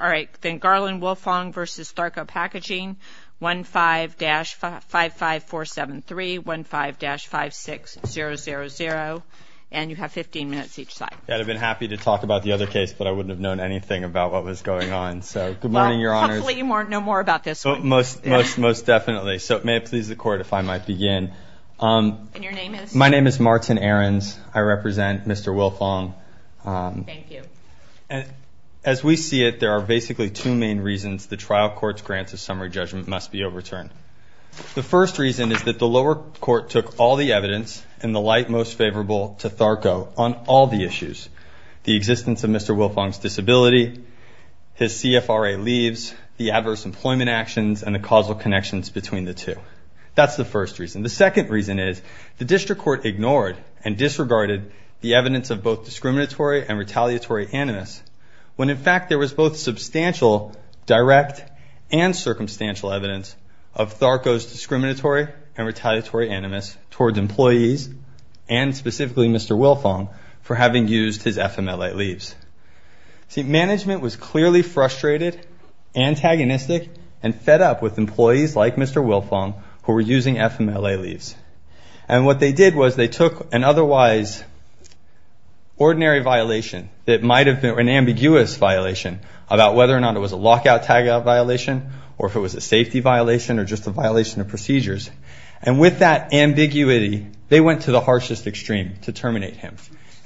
All right, then Garland Wilfong v. Tharco Packaging, 15-55473, 15-56000, and you have 15 minutes each side. I'd have been happy to talk about the other case, but I wouldn't have known anything about what was going on. So, good morning, Your Honors. Well, hopefully you know more about this one. Most definitely. So, may it please the Court if I might begin. My name is Martin Ahrens. I represent Mr. Wilfong. Thank you. As we see it, there are basically two main reasons the trial court's grants of summary judgment must be overturned. The first reason is that the lower court took all the evidence in the light most favorable to Tharco on all the issues, the existence of Mr. Wilfong's disability, his CFRA leaves, the adverse employment actions, and the causal connections between the two. That's the first reason. The second reason is the district court ignored and disregarded the evidence of both discriminatory and retaliatory animus when, in fact, there was both substantial direct and circumstantial evidence of Tharco's discriminatory and retaliatory animus towards employees, and specifically Mr. Wilfong, for having used his FMLA leaves. See, management was clearly frustrated, antagonistic, and fed up with employees like Mr. Wilfong who were using FMLA leaves. And what they did was they took an otherwise ordinary violation that might have been an ambiguous violation about whether or not it was a lockout, tagout violation, or if it was a safety violation, or just a violation of procedures. And with that ambiguity, they went to the harshest extreme to terminate him.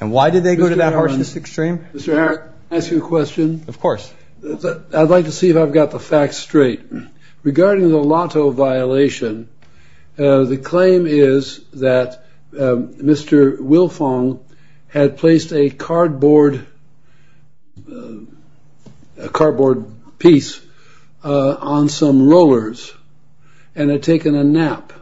And why did they go to that harshest extreme? Mr. Ahrens, can I ask you a question? Of course. I'd like to see if I've got the facts straight. Regarding the lotto violation, the claim is that Mr. Wilfong had placed a cardboard piece on some rollers and had taken a nap.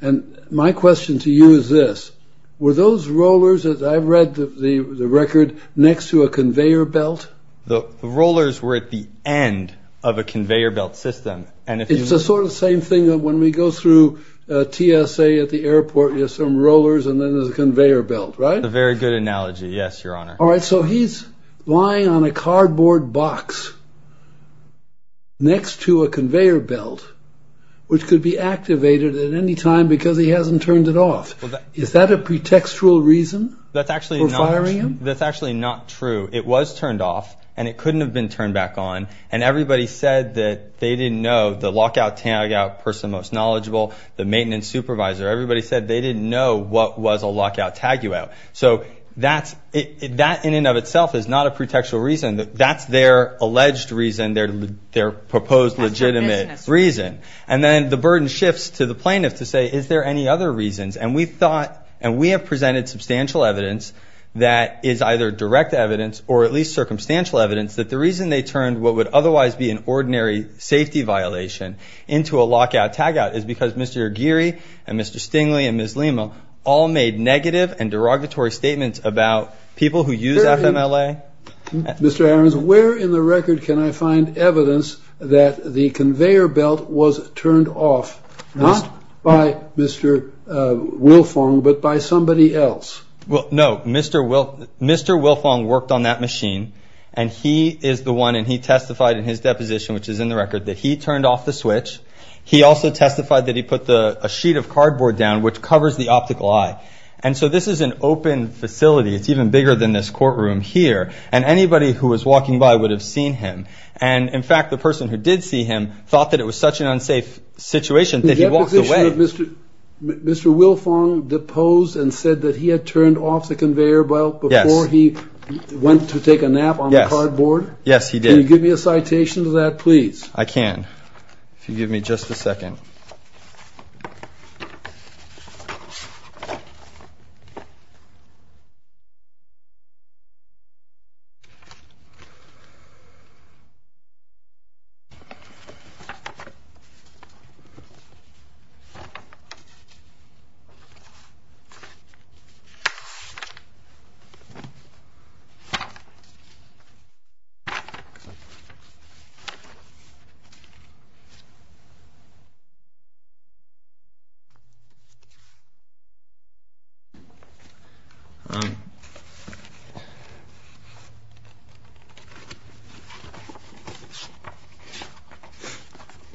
And my question to you is this. Were those rollers, as I've read the record, next to a conveyor belt? The rollers were at the end of a conveyor belt system. And if you... It's the sort of same thing that when we go through TSA at the airport, there's some rollers and then there's a conveyor belt, right? A very good analogy. Yes, Your Honor. All right. So he's lying on a cardboard box next to a conveyor belt, which could be activated at any time because he hasn't turned it off. Is that a pretextual reason for firing him? That's actually not true. It was turned off and it couldn't have been turned back on. And everybody said that they didn't know, the lockout, tagout, person most knowledgeable, the maintenance supervisor, everybody said they didn't know what was a lockout, tagout. So that in and of itself is not a pretextual reason. That's their alleged reason, their proposed legitimate reason. And then the burden shifts to the plaintiff to say, is there any other reasons? And we thought, and we have presented substantial evidence that is either direct evidence or at least circumstantial evidence, that the reason they turned what would otherwise be an ordinary safety violation into a lockout, tagout is because Mr. Aguirre and Mr. Stingley and Ms. Lima all made negative and derogatory statements about people who use FMLA. Mr. Ahrens, where in the record can I find evidence that the conveyor belt was turned off, not by Mr. Wilfong, but by somebody else? Well, no, Mr. Wilfong worked on that machine and he is the one and he testified in his deposition, which is in the record, that he turned off the switch. He also testified that he put a sheet of cardboard down, which covers the optical eye. And so this is an open facility. It's even bigger than this courtroom here. And anybody who was walking by would have seen him. And in fact, the person who did see him thought that it was such an unsafe situation that he walked away. The deposition that Mr. Wilfong deposed and said that he had turned off the conveyor belt before he went to take a nap on the cardboard? Yes, he did. Can you give me a citation to that, please? I can, if you give me just a second.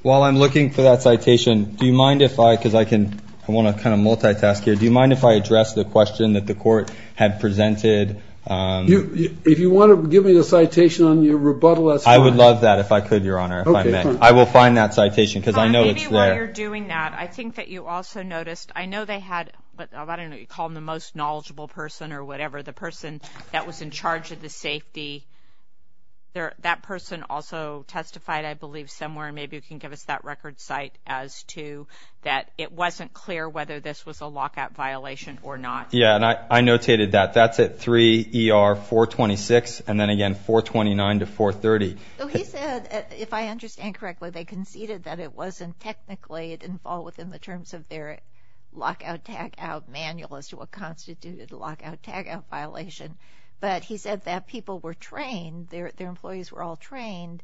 While I'm looking for that citation, do you mind if I, because I can, I want to kind of multitask here. Do you mind if I address the question that the court had presented? If you want to give me the citation on your rebuttal, that's fine. I would love that if I could, Your Honor, if I may. I will find that citation because I know it's there. Maybe while you're doing that, I think that you also noticed, I know they had, I don't know, you call them the most knowledgeable person or whatever, the person that was in testified, I believe, somewhere. Maybe you can give us that record site as to that it wasn't clear whether this was a lockout violation or not. Yeah, and I notated that. That's at 3 ER 426 and then again 429 to 430. So he said, if I understand correctly, they conceded that it wasn't technically, it didn't fall within the terms of their lockout tagout manual as to what constituted a lockout tagout violation. But he said that people were trained, their employees were all trained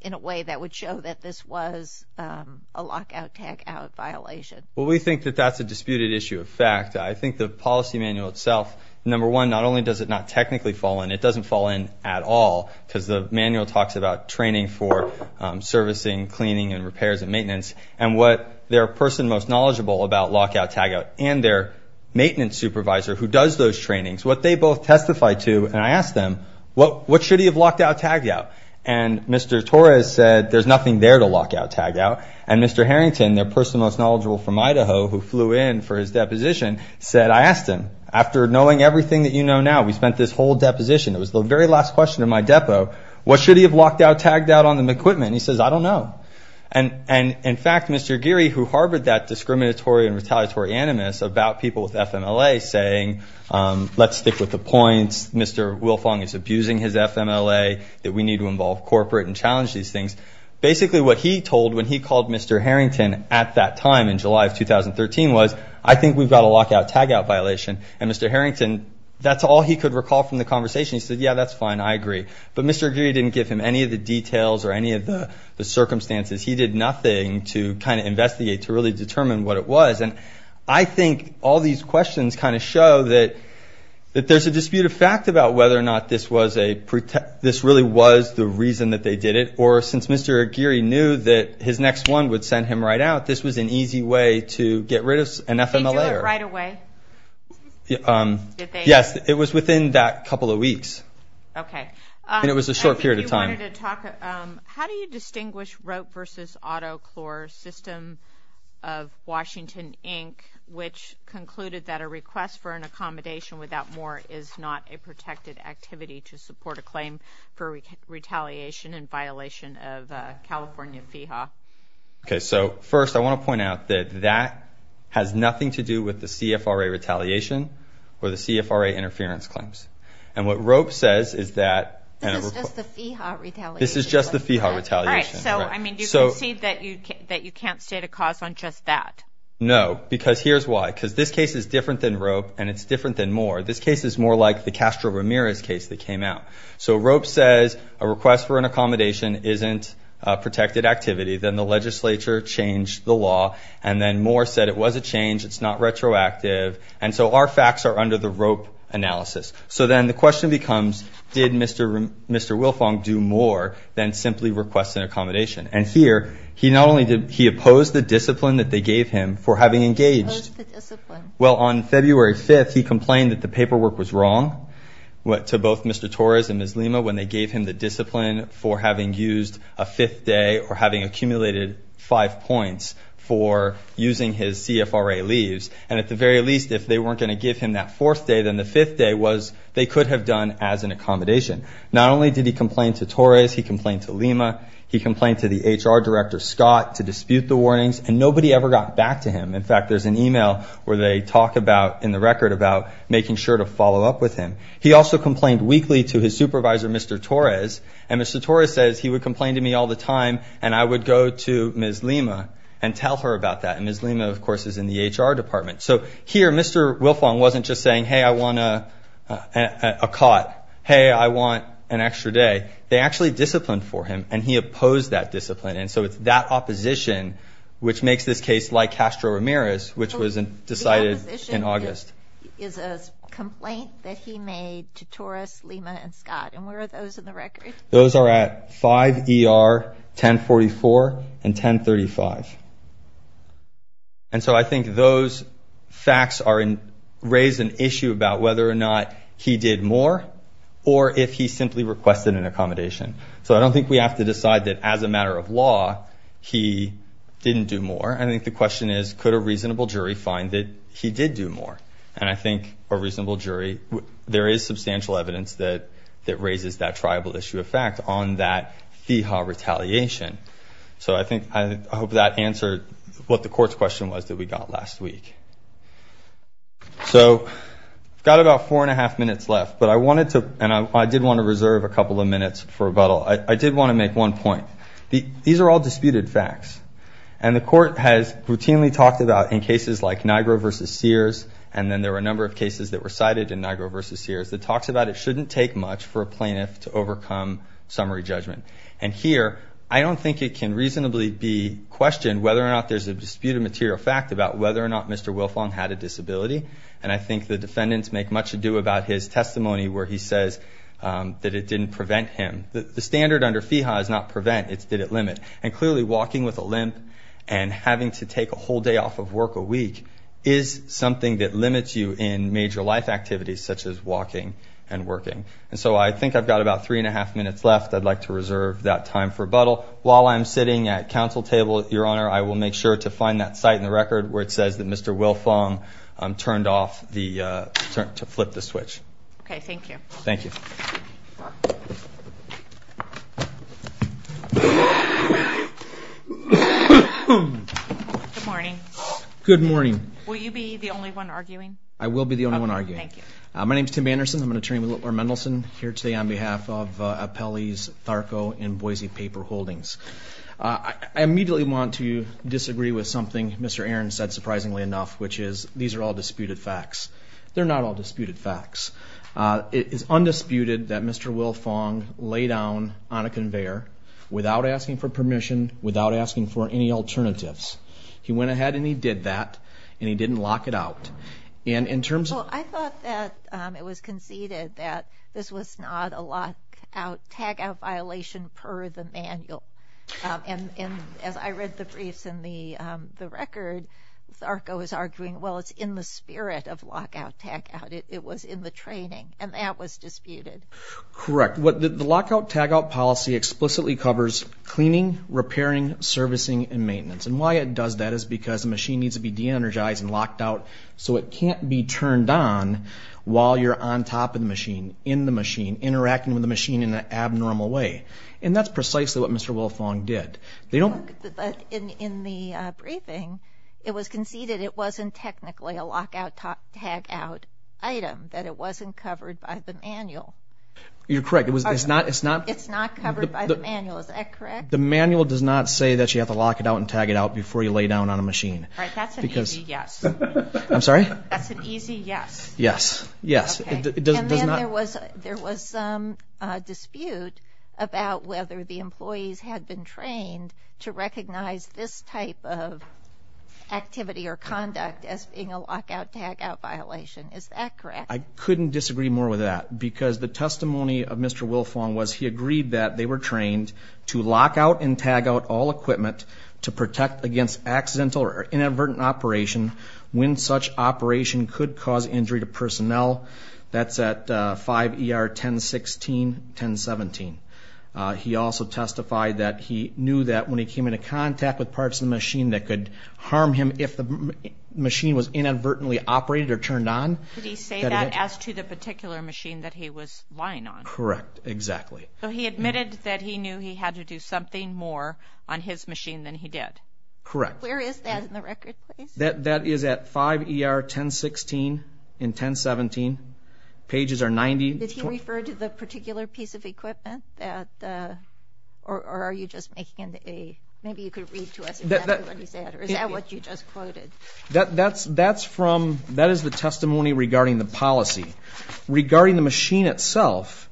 in a way that would show that this was a lockout tagout violation. Well, we think that that's a disputed issue of fact. I think the policy manual itself, number one, not only does it not technically fall in, it doesn't fall in at all because the manual talks about training for servicing, cleaning and repairs and maintenance. And what their person most knowledgeable about lockout tagout and their maintenance supervisor who does those trainings, what they both testified to and I asked them, what should he have locked out tagout? And Mr. Torres said, there's nothing there to lockout tagout. And Mr. Harrington, their person most knowledgeable from Idaho who flew in for his deposition said, I asked him, after knowing everything that you know now, we spent this whole deposition, it was the very last question in my depot, what should he have locked out tagout on the equipment? He says, I don't know. And in fact, Mr. Geary, who harbored that discriminatory and retaliatory animus about people with FMLA saying, let's stick with the points, Mr. Wilfong is abusing his FMLA, that we need to involve corporate and challenge these things. Basically what he told when he called Mr. Harrington at that time in July of 2013 was, I think we've got a lockout tagout violation. And Mr. Harrington, that's all he could recall from the conversation. He said, yeah, that's fine, I agree. But Mr. Geary didn't give him any of the details or any of the circumstances. He did nothing to kind of investigate, to really determine what it was. And I think all these questions kind of show that there's a disputed fact about whether or not this really was the reason that they did it. Or since Mr. Geary knew that his next one would send him right out, this was an easy way to get rid of an FMLAer. Did they do it right away? Yes, it was within that couple of weeks. Okay. And it was a short period of time. Hi, Mark. How do you distinguish rope versus autoclore system of Washington, Inc., which concluded that a request for an accommodation without more is not a protected activity to support a claim for retaliation in violation of California FEHA? Okay, so first I want to point out that that has nothing to do with the CFRA retaliation or the CFRA interference claims. And what rope says is that This is just the FEHA retaliation. This is just the FEHA retaliation. All right, so, I mean, do you concede that you can't state a cause on just that? No, because here's why. Because this case is different than rope, and it's different than Moore. This case is more like the Castro-Ramirez case that came out. So rope says a request for an accommodation isn't a protected activity. Then the legislature changed the law, and then Moore said it was a change. It's not retroactive. And so our facts are under the rope analysis. So then the question becomes, did Mr. Wilfong do more than simply request an accommodation? And here, he opposed the discipline that they gave him for having engaged. Opposed the discipline. Well, on February 5th, he complained that the paperwork was wrong to both Mr. Torres and Ms. Lima when they gave him the discipline for having used a fifth day or having accumulated five points for using his CFRA leaves. And at the very least, if they weren't going to give him that fourth day, then the fifth day was they could have done as an accommodation. Not only did he complain to Torres, he complained to Lima, he complained to the HR director, Scott, to dispute the warnings, and nobody ever got back to him. In fact, there's an email where they talk about, in the record, about making sure to follow up with him. He also complained weekly to his supervisor, Mr. Torres, and Mr. Torres says he would complain to me all the time, and I would go to Ms. Lima and tell her about that. And Ms. Lima, of course, is in the HR department. So here, Mr. Wilfong wasn't just saying, hey, I want a cot. Hey, I want an extra day. They actually disciplined for him, and he opposed that discipline. And so it's that opposition which makes this case like Castro Ramirez, which was decided in August. The opposition is a complaint that he made to Torres, Lima, and Scott. And where are those in the record? Those are at 5 ER, 1044, and 1035. And so I think those facts raise an issue about whether or not he did more or if he simply requested an accommodation. So I don't think we have to decide that, as a matter of law, he didn't do more. I think the question is, could a reasonable jury find that he did do more? And I think a reasonable jury, there is substantial evidence that raises that tribal issue of fact on that FIHA retaliation. So I hope that answered what the court's question was that we got last week. So we've got about four and a half minutes left, but I wanted to, and I did want to reserve a couple of minutes for rebuttal. I did want to make one point. These are all disputed facts, and the court has routinely talked about, in cases like Niagara v. Sears, and then there were a number of cases that were cited in Niagara v. Sears, that talks about it shouldn't take much for a plaintiff to overcome summary judgment. And here, I don't think it can reasonably be questioned whether or not there's a disputed material fact about whether or not Mr. Wilfong had a disability. And I think the defendants make much ado about his testimony where he says that it didn't prevent him. The standard under FIHA is not prevent, it's did it limit. And clearly, walking with a limp and having to take a whole day off of work a week is something that limits you in major life activities, such as walking and working. And so I think I've got about three and a half minutes left. I'd like to reserve that time for rebuttal. While I'm sitting at counsel table, Your Honor, I will make sure to find that site in the record where it says that Mr. Wilfong turned off the, to flip the switch. Okay, thank you. Thank you. Good morning. Good morning. Will you be the only one arguing? I will be the only one arguing. Okay, thank you. My name's Tim Anderson. I'm an attorney with Whittler Mendelsohn here today on behalf of Apelles, Tharco, and Boise Paper Holdings. I immediately want to disagree with something Mr. Aaron said surprisingly enough, which is these are all disputed facts. They're not all disputed facts. It is undisputed that Mr. Wilfong lay down on a conveyor without asking for permission, without asking for any alternatives. He went ahead and he did that, and he didn't lock it out. I thought that it was conceded that this was not a lockout, tagout violation per the manual. And as I read the briefs in the record, Tharco is arguing, well, it's in the spirit of lockout, tagout. It was in the training, and that was disputed. Correct. The lockout, tagout policy explicitly covers cleaning, repairing, servicing, and maintenance. And why it does that is because the machine needs to be de-energized and locked out so it can't be turned on while you're on top of the machine, in the machine, interacting with the machine in an abnormal way. And that's precisely what Mr. Wilfong did. But in the briefing, it was conceded it wasn't technically a lockout, tagout item, that it wasn't covered by the manual. You're correct. It's not covered by the manual. Is that correct? The manual does not say that you have to lock it out and tag it out before you lay down on a machine. All right, that's an easy yes. I'm sorry? That's an easy yes. Yes, yes. And then there was some dispute about whether the employees had been trained to recognize this type of activity or conduct as being a lockout, tagout violation. Is that correct? I couldn't disagree more with that, because the testimony of Mr. Wilfong was he agreed that they were trained to lockout and tagout all equipment to protect against accidental or inadvertent operation when such operation could cause injury to personnel. That's at 5 ER 1016, 1017. He also testified that he knew that when he came into contact with parts of the machine that could harm him if the machine was inadvertently operated or turned on. Did he say that as to the particular machine that he was lying on? Correct, exactly. So he admitted that he knew he had to do something more on his machine than he did. Correct. Where is that in the record, please? That is at 5 ER 1016 and 1017. Pages are 90. Did he refer to the particular piece of equipment? Or are you just making an A? Maybe you could read to us exactly what he said. Or is that what you just quoted? That is the testimony regarding the policy. Regarding the machine itself,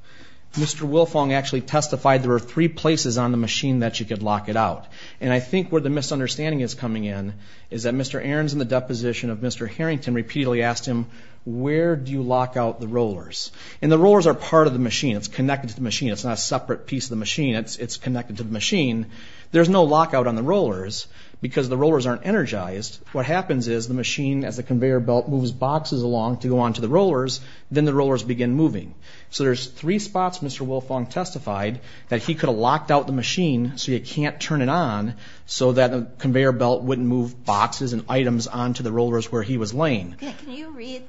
Mr. Wilfong actually testified there were three places on the machine that you could lock it out. And I think where the misunderstanding is coming in is that Mr. Arons, in the deposition of Mr. Harrington, repeatedly asked him, where do you lock out the rollers? And the rollers are part of the machine. It's connected to the machine. It's not a separate piece of the machine. It's connected to the machine. There's no lockout on the rollers because the rollers aren't energized. What happens is the machine, as the conveyor belt moves boxes along to go on to the rollers, then the rollers begin moving. So there's three spots Mr. Wilfong testified that he could have locked out the machine so you can't turn it on so that the conveyor belt wouldn't move boxes and items on to the rollers where he was laying. Can you read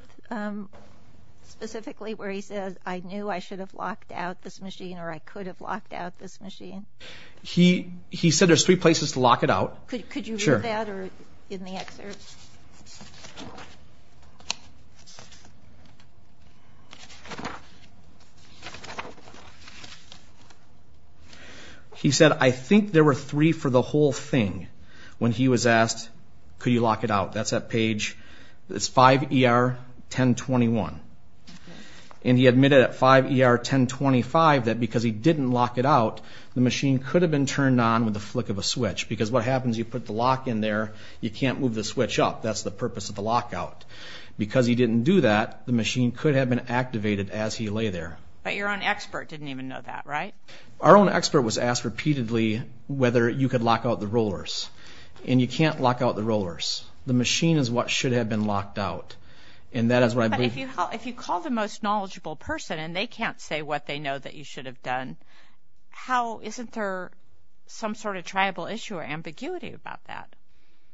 specifically where he says, I knew I should have locked out this machine or I could have locked out this machine? He said there's three places to lock it out. Could you read that or in the excerpt? He said, I think there were three for the whole thing when he was asked, could you lock it out? That's at page 5ER1021. And he admitted at 5ER1025 that because he didn't lock it out, the machine could have been turned on with the flick of a switch because what happens, you put the lock in there, you can't move the switch up. That's the purpose of the lockout. Because he didn't do that, the machine could have been activated as he lay there. But your own expert didn't even know that, right? Our own expert was asked repeatedly whether you could lock out the rollers. And you can't lock out the rollers. The machine is what should have been locked out. But if you call the most knowledgeable person and they can't say what they know that you should have done, isn't there some sort of tribal issue or ambiguity about that?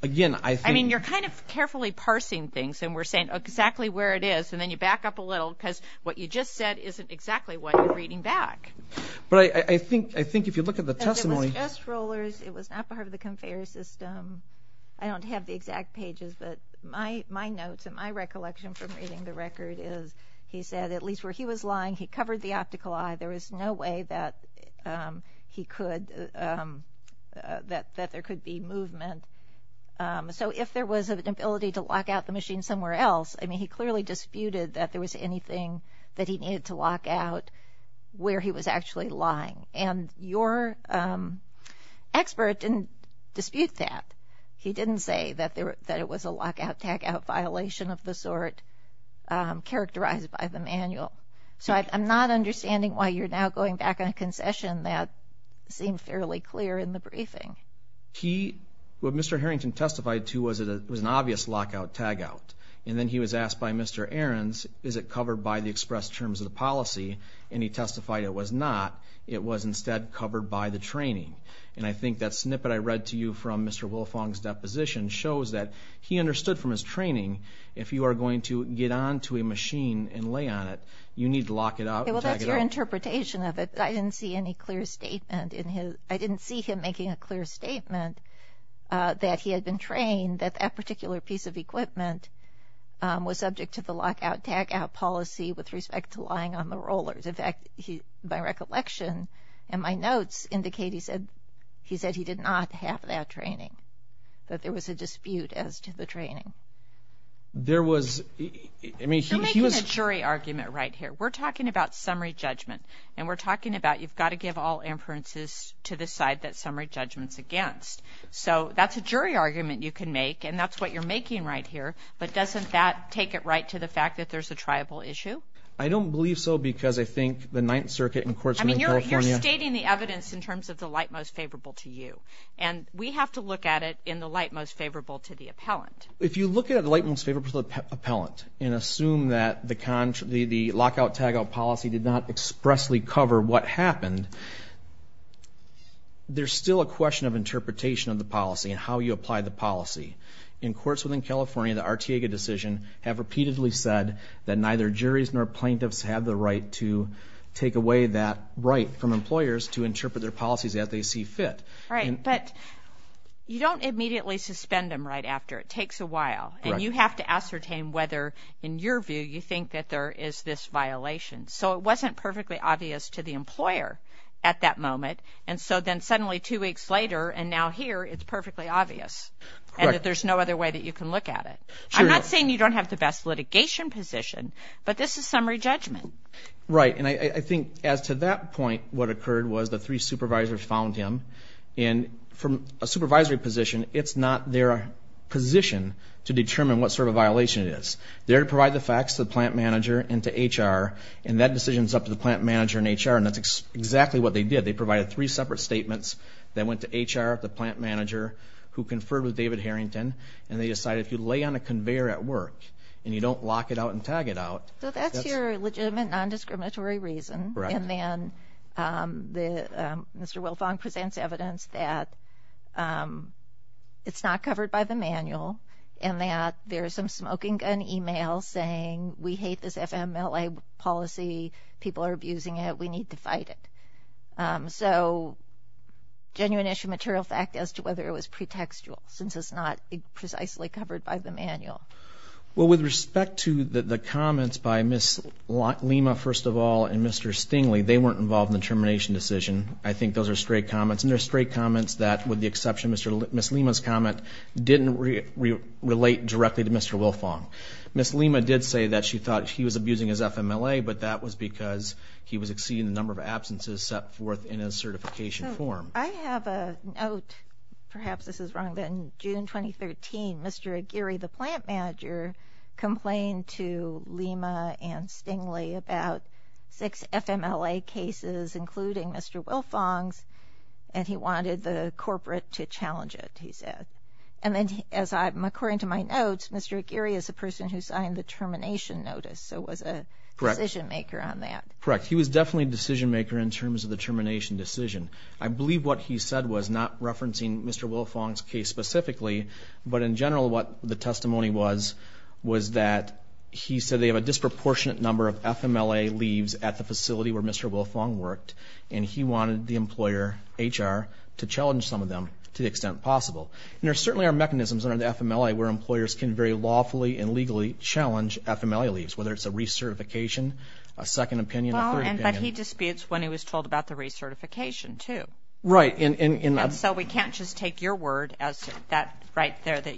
You're kind of carefully parsing things, and we're saying exactly where it is, and then you back up a little because what you just said isn't exactly what you're reading back. But I think if you look at the testimony. It was just rollers. It was not part of the conveyor system. I don't have the exact pages, but my notes and my recollection from reading the record is, he said at least where he was lying, he covered the optical eye. There was no way that there could be movement. So if there was an ability to lock out the machine somewhere else, I mean he clearly disputed that there was anything that he needed to lock out where he was actually lying. And your expert didn't dispute that. He didn't say that it was a lockout-tagout violation of the sort characterized by the manual. So I'm not understanding why you're now going back on a concession that seemed fairly clear in the briefing. What Mr. Harrington testified to was an obvious lockout-tagout. And then he was asked by Mr. Ahrens, is it covered by the express terms of the policy? And he testified it was not. It was instead covered by the training. And I think that snippet I read to you from Mr. Wolfong's deposition shows that he understood from his training, if you are going to get onto a machine and lay on it, you need to lock it out and tag it out. Well, that's your interpretation of it. I didn't see any clear statement in his – I didn't see him making a clear statement that he had been trained, that that particular piece of equipment was subject to the lockout-tagout policy with respect to lying on the rollers. In fact, my recollection and my notes indicate he said he did not have that training, that there was a dispute as to the training. There was – I mean, he was – You're making a jury argument right here. We're talking about summary judgment. And we're talking about you've got to give all inferences to the side that summary judgment's against. So that's a jury argument you can make, and that's what you're making right here. But doesn't that take it right to the fact that there's a tribal issue? I don't believe so because I think the Ninth Circuit in Courtsville, California – I mean, you're stating the evidence in terms of the light most favorable to you. And we have to look at it in the light most favorable to the appellant. If you look at the light most favorable to the appellant and assume that the lockout-tagout policy did not expressly cover what happened, there's still a question of interpretation of the policy and how you apply the policy. In Courtsville, California, the Arteaga decision have repeatedly said that neither juries nor plaintiffs have the right to take away that right from employers to interpret their policies as they see fit. Right, but you don't immediately suspend them right after. It takes a while, and you have to ascertain whether, in your view, you think that there is this violation. So it wasn't perfectly obvious to the employer at that moment, and so then suddenly two weeks later and now here, it's perfectly obvious. And there's no other way that you can look at it. I'm not saying you don't have the best litigation position, but this is summary judgment. Right, and I think as to that point, what occurred was the three supervisors found him. And from a supervisory position, it's not their position to determine what sort of violation it is. They're to provide the facts to the plant manager and to HR, and that decision is up to the plant manager and HR, and that's exactly what they did. They provided three separate statements that went to HR, the plant manager, who conferred with David Harrington, and they decided if you lay on a conveyor at work and you don't lock it out and tag it out. So that's your legitimate non-discriminatory reason, and then Mr. Wilfong presents evidence that it's not covered by the manual and that there's some smoking gun email saying we hate this FMLA policy, people are abusing it, we need to fight it. So genuine issue material fact as to whether it was pretextual, since it's not precisely covered by the manual. Well, with respect to the comments by Ms. Lima, first of all, and Mr. Stingley, they weren't involved in the termination decision. I think those are straight comments, and they're straight comments that, with the exception of Ms. Lima's comment, didn't relate directly to Mr. Wilfong. Ms. Lima did say that she thought he was abusing his FMLA, but that was because he was exceeding the number of absences set forth in his certification form. I have a note. Perhaps this is wrong, but in June 2013, Mr. Aguirre, the plant manager, complained to Lima and Stingley about six FMLA cases, including Mr. Wilfong's, and he wanted the corporate to challenge it, he said. And then, according to my notes, Mr. Aguirre is a person who signed the termination notice, so was a decision-maker on that. Correct. He was definitely a decision-maker in terms of the termination decision. I believe what he said was not referencing Mr. Wilfong's case specifically, but in general what the testimony was was that he said they have a disproportionate number of FMLA leaves at the facility where Mr. Wilfong worked, and he wanted the employer, HR, to challenge some of them to the extent possible. And there certainly are mechanisms under the FMLA where employers can very lawfully and legally challenge FMLA leaves, whether it's a recertification, a second opinion, a third opinion. But he disputes when he was told about the recertification, too. Right. And so we can't just take your word as that right there, that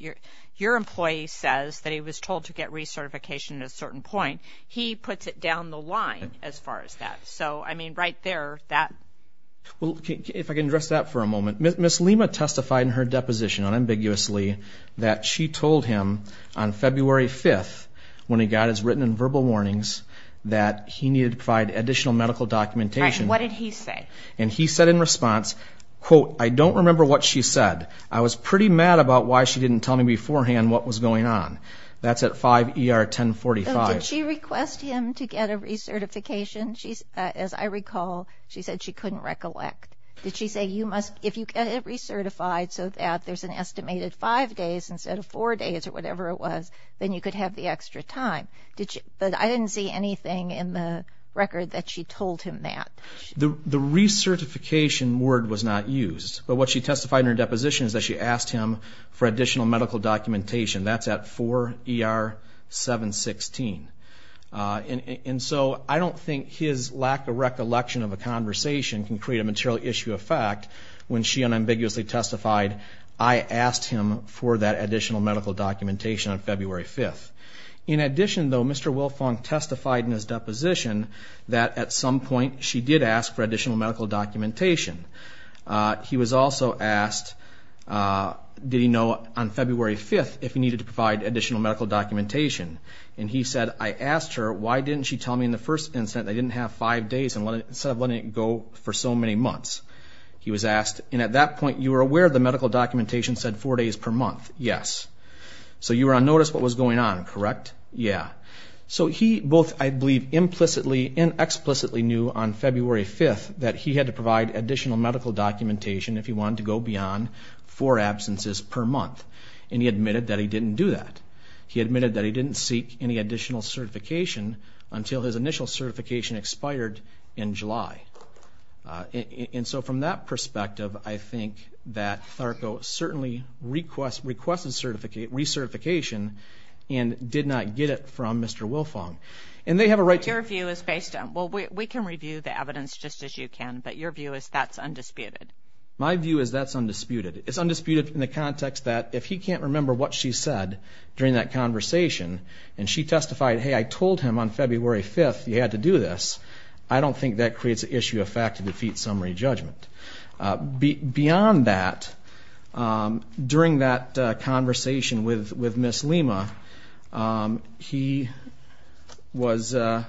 your employee says that he was told to get recertification at a certain point. He puts it down the line as far as that. So, I mean, right there, that... Well, if I can address that for a moment. Ms. Lima testified in her deposition unambiguously that she told him on February 5th, when he got his written and verbal warnings, that he needed to provide additional medical documentation. Right. What did he say? And he said in response, quote, I don't remember what she said. I was pretty mad about why she didn't tell me beforehand what was going on. That's at 5 ER 1045. Did she request him to get a recertification? As I recall, she said she couldn't recollect. Did she say, if you get it recertified so that there's an estimated five days instead of four days or whatever it was, then you could have the extra time? But I didn't see anything in the record that she told him that. The recertification word was not used. But what she testified in her deposition is that she asked him for additional medical documentation. That's at 4 ER 716. And so I don't think his lack of recollection of a conversation can create a material issue of fact when she unambiguously testified, I asked him for that additional medical documentation on February 5th. In addition, though, Mr. Wilfong testified in his deposition that at some point she did ask for additional medical documentation. He was also asked, did he know on February 5th if he needed to provide additional medical documentation? And he said, I asked her, why didn't she tell me in the first instance I didn't have five days instead of letting it go for so many months? He was asked, and at that point you were aware the medical documentation said four days per month? Yes. So you were on notice what was going on, correct? Yeah. So he both, I believe, implicitly and explicitly knew on February 5th that he had to provide additional medical documentation if he wanted to go beyond four absences per month. And he admitted that he didn't do that. He admitted that he didn't seek any additional certification until his initial certification expired in July. And so from that perspective, I think that THARCO certainly requested recertification and did not get it from Mr. Wilfong. Your view is based on, well, we can review the evidence just as you can, but your view is that's undisputed. My view is that's undisputed. It's undisputed in the context that if he can't remember what she said during that conversation and she testified, hey, I told him on February 5th you had to do this, I don't think that creates an issue of fact to defeat summary judgment. Beyond that, during that conversation with Ms. Lima, he was on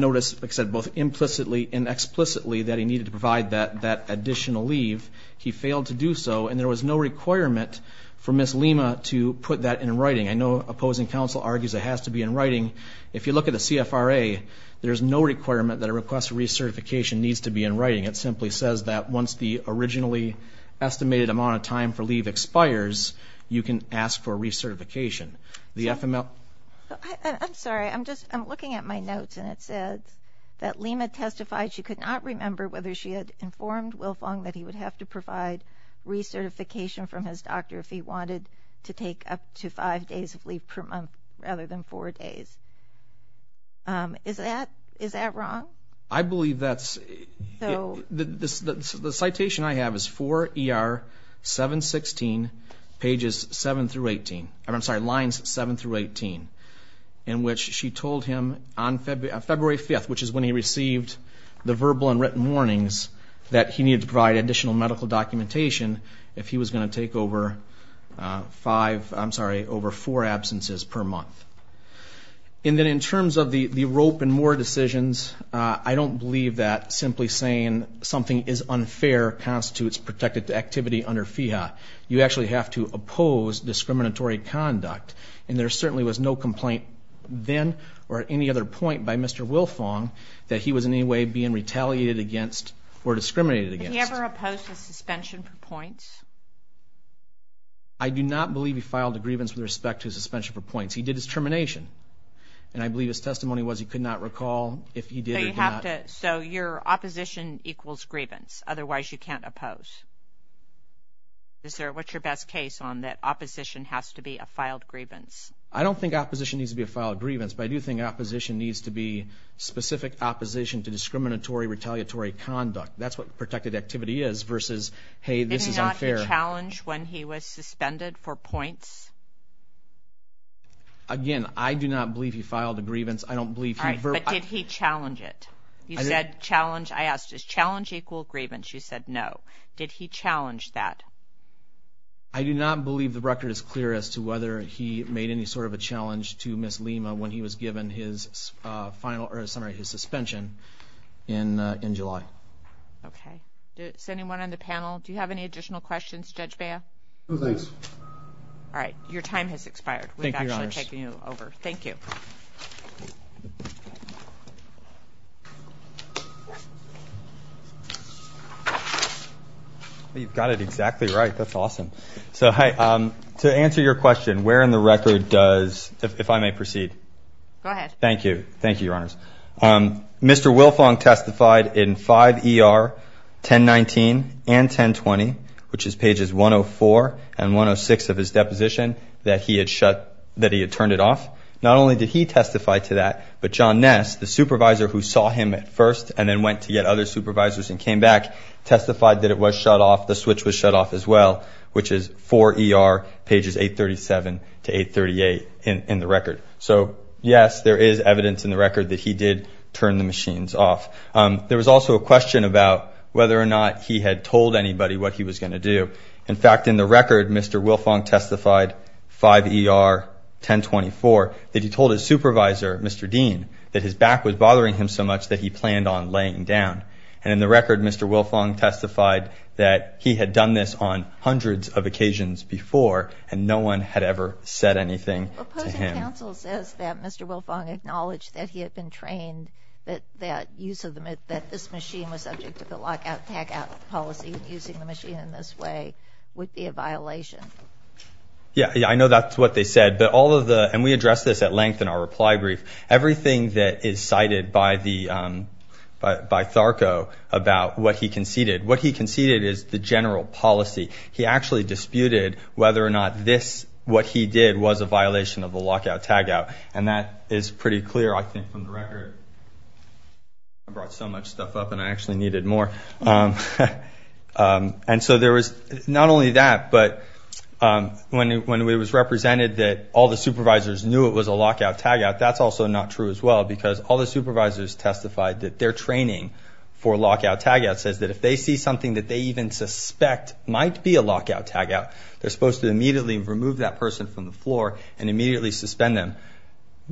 notice, like I said, both implicitly and explicitly that he needed to provide that additional leave. He failed to do so, and there was no requirement for Ms. Lima to put that in writing. I know opposing counsel argues it has to be in writing. If you look at the CFRA, there's no requirement that a request for recertification needs to be in writing. It simply says that once the originally estimated amount of time for leave expires, you can ask for recertification. I'm sorry, I'm looking at my notes, and it says that Lima testified she could not remember whether she had informed Wilfong that he would have to provide recertification from his doctor if he wanted to take up to five days of leave per month rather than four days. Is that wrong? I believe that's the citation I have is for ER 716, pages 7 through 18, I'm sorry, lines 7 through 18, in which she told him on February 5th, which is when he received the verbal and written warnings, that he needed to provide additional medical documentation if he was going to take over five, I'm sorry, over four absences per month. And then in terms of the rope and more decisions, I don't believe that simply saying something is unfair constitutes protected activity under FEHA. You actually have to oppose discriminatory conduct, and there certainly was no complaint then or at any other point by Mr. Wilfong that he was in any way being retaliated against or discriminated against. Did he ever oppose his suspension for points? I do not believe he filed a grievance with respect to his suspension for points. He did his termination, and I believe his testimony was he could not recall if he did or did not. So your opposition equals grievance, otherwise you can't oppose. What's your best case on that opposition has to be a filed grievance? I don't think opposition needs to be a filed grievance, but I do think opposition needs to be specific opposition to discriminatory, retaliatory conduct. That's what protected activity is versus, hey, this is unfair. Did he not challenge when he was suspended for points? Again, I do not believe he filed a grievance. All right, but did he challenge it? I asked, does challenge equal grievance? You said no. Did he challenge that? I do not believe the record is clear as to whether he made any sort of a challenge to Ms. Lima when he was given his suspension in July. Okay. Is anyone on the panel? Do you have any additional questions, Judge Bea? No thanks. All right. Your time has expired. Thank you, Your Honors. We've actually taken you over. Thank you. You've got it exactly right. That's awesome. To answer your question, where in the record does, if I may proceed. Go ahead. Thank you. Thank you, Your Honors. Mr. Wilfong testified in 5 ER 1019 and 1020, which is pages 104 and 106 of his deposition, that he had turned it off. Not only did he testify to that, but John Ness, the supervisor who saw him at first and then went to get other supervisors and came back, testified that it was shut off, the switch was shut off as well, which is 4 ER pages 837 to 838 in the record. So, yes, there is evidence in the record that he did turn the machines off. There was also a question about whether or not he had told anybody what he was going to do. In fact, in the record, Mr. Wilfong testified, 5 ER 1024, that he told his supervisor, Mr. Dean, that his back was bothering him so much that he planned on laying down. And in the record, Mr. Wilfong testified that he had done this on hundreds of occasions before and no one had ever said anything to him. Opposing counsel says that Mr. Wilfong acknowledged that he had been trained, that that use of the, that this machine was subject to the lockout, packout policy and using the machine in this way would be a violation. Yeah, I know that's what they said. But all of the, and we addressed this at length in our reply brief, everything that is cited by the, by THARCO about what he conceded, what he conceded is the general policy. He actually disputed whether or not this, what he did was a violation of the lockout tagout. And that is pretty clear, I think, from the record. I brought so much stuff up and I actually needed more. And so there was not only that, but when it was represented that all the supervisors knew it was a lockout tagout, in fact, that's also not true as well because all the supervisors testified that their training for lockout tagout says that if they see something that they even suspect might be a lockout tagout, they're supposed to immediately remove that person from the floor and immediately suspend them.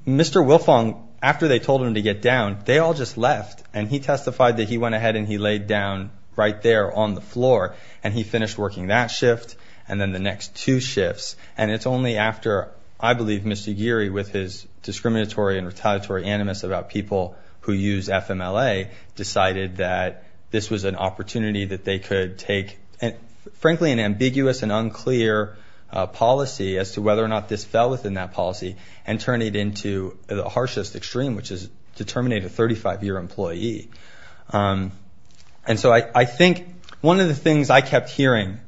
Mr. Wilfong, after they told him to get down, they all just left. And he testified that he went ahead and he laid down right there on the floor and he finished working that shift and then the next two shifts. And it's only after, I believe, Mr. Geary, with his discriminatory and retaliatory animus about people who use FMLA, decided that this was an opportunity that they could take, frankly, an ambiguous and unclear policy as to whether or not this fell within that policy and turn it into the harshest extreme, which is to terminate a 35-year employee. And so I think one of the things I kept hearing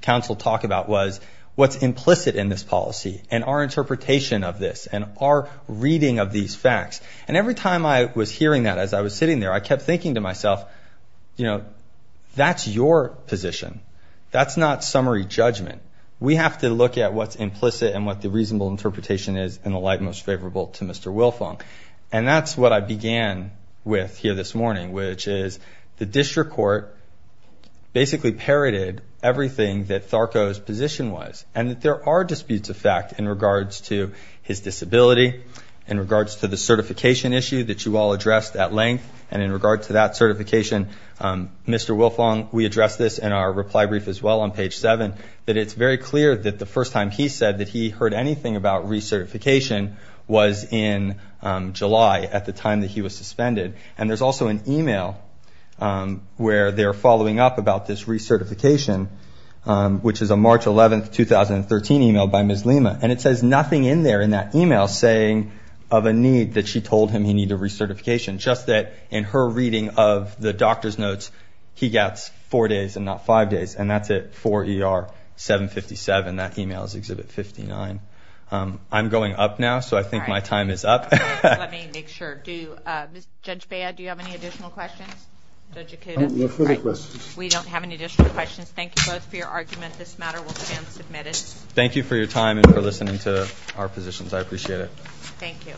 counsel talk about was what's implicit in this policy and our interpretation of this and our reading of these facts. And every time I was hearing that as I was sitting there, I kept thinking to myself, you know, that's your position. That's not summary judgment. We have to look at what's implicit and what the reasonable interpretation is in the light most favorable to Mr. Wilfong. And that's what I began with here this morning, which is the district court basically parroted everything that Tharco's position was and that there are disputes of fact in regards to his disability, in regards to the certification issue that you all addressed at length, and in regard to that certification. Mr. Wilfong, we addressed this in our reply brief as well on page 7, that it's very clear that the first time he said that he heard anything about recertification was in July at the time that he was suspended. And there's also an email where they're following up about this recertification, which is a March 11, 2013 email by Ms. Lima. And it says nothing in there in that email saying of a need that she told him he needed recertification, just that in her reading of the doctor's notes, he gets four days and not five days. And that's at 4ER757. That email is Exhibit 59. I'm going up now, so I think my time is up. Let me make sure. Judge Bea, do you have any additional questions? No further questions. We don't have any additional questions. Thank you both for your argument. This matter will stand submitted. Thank you for your time and for listening to our positions. I appreciate it. Thank you.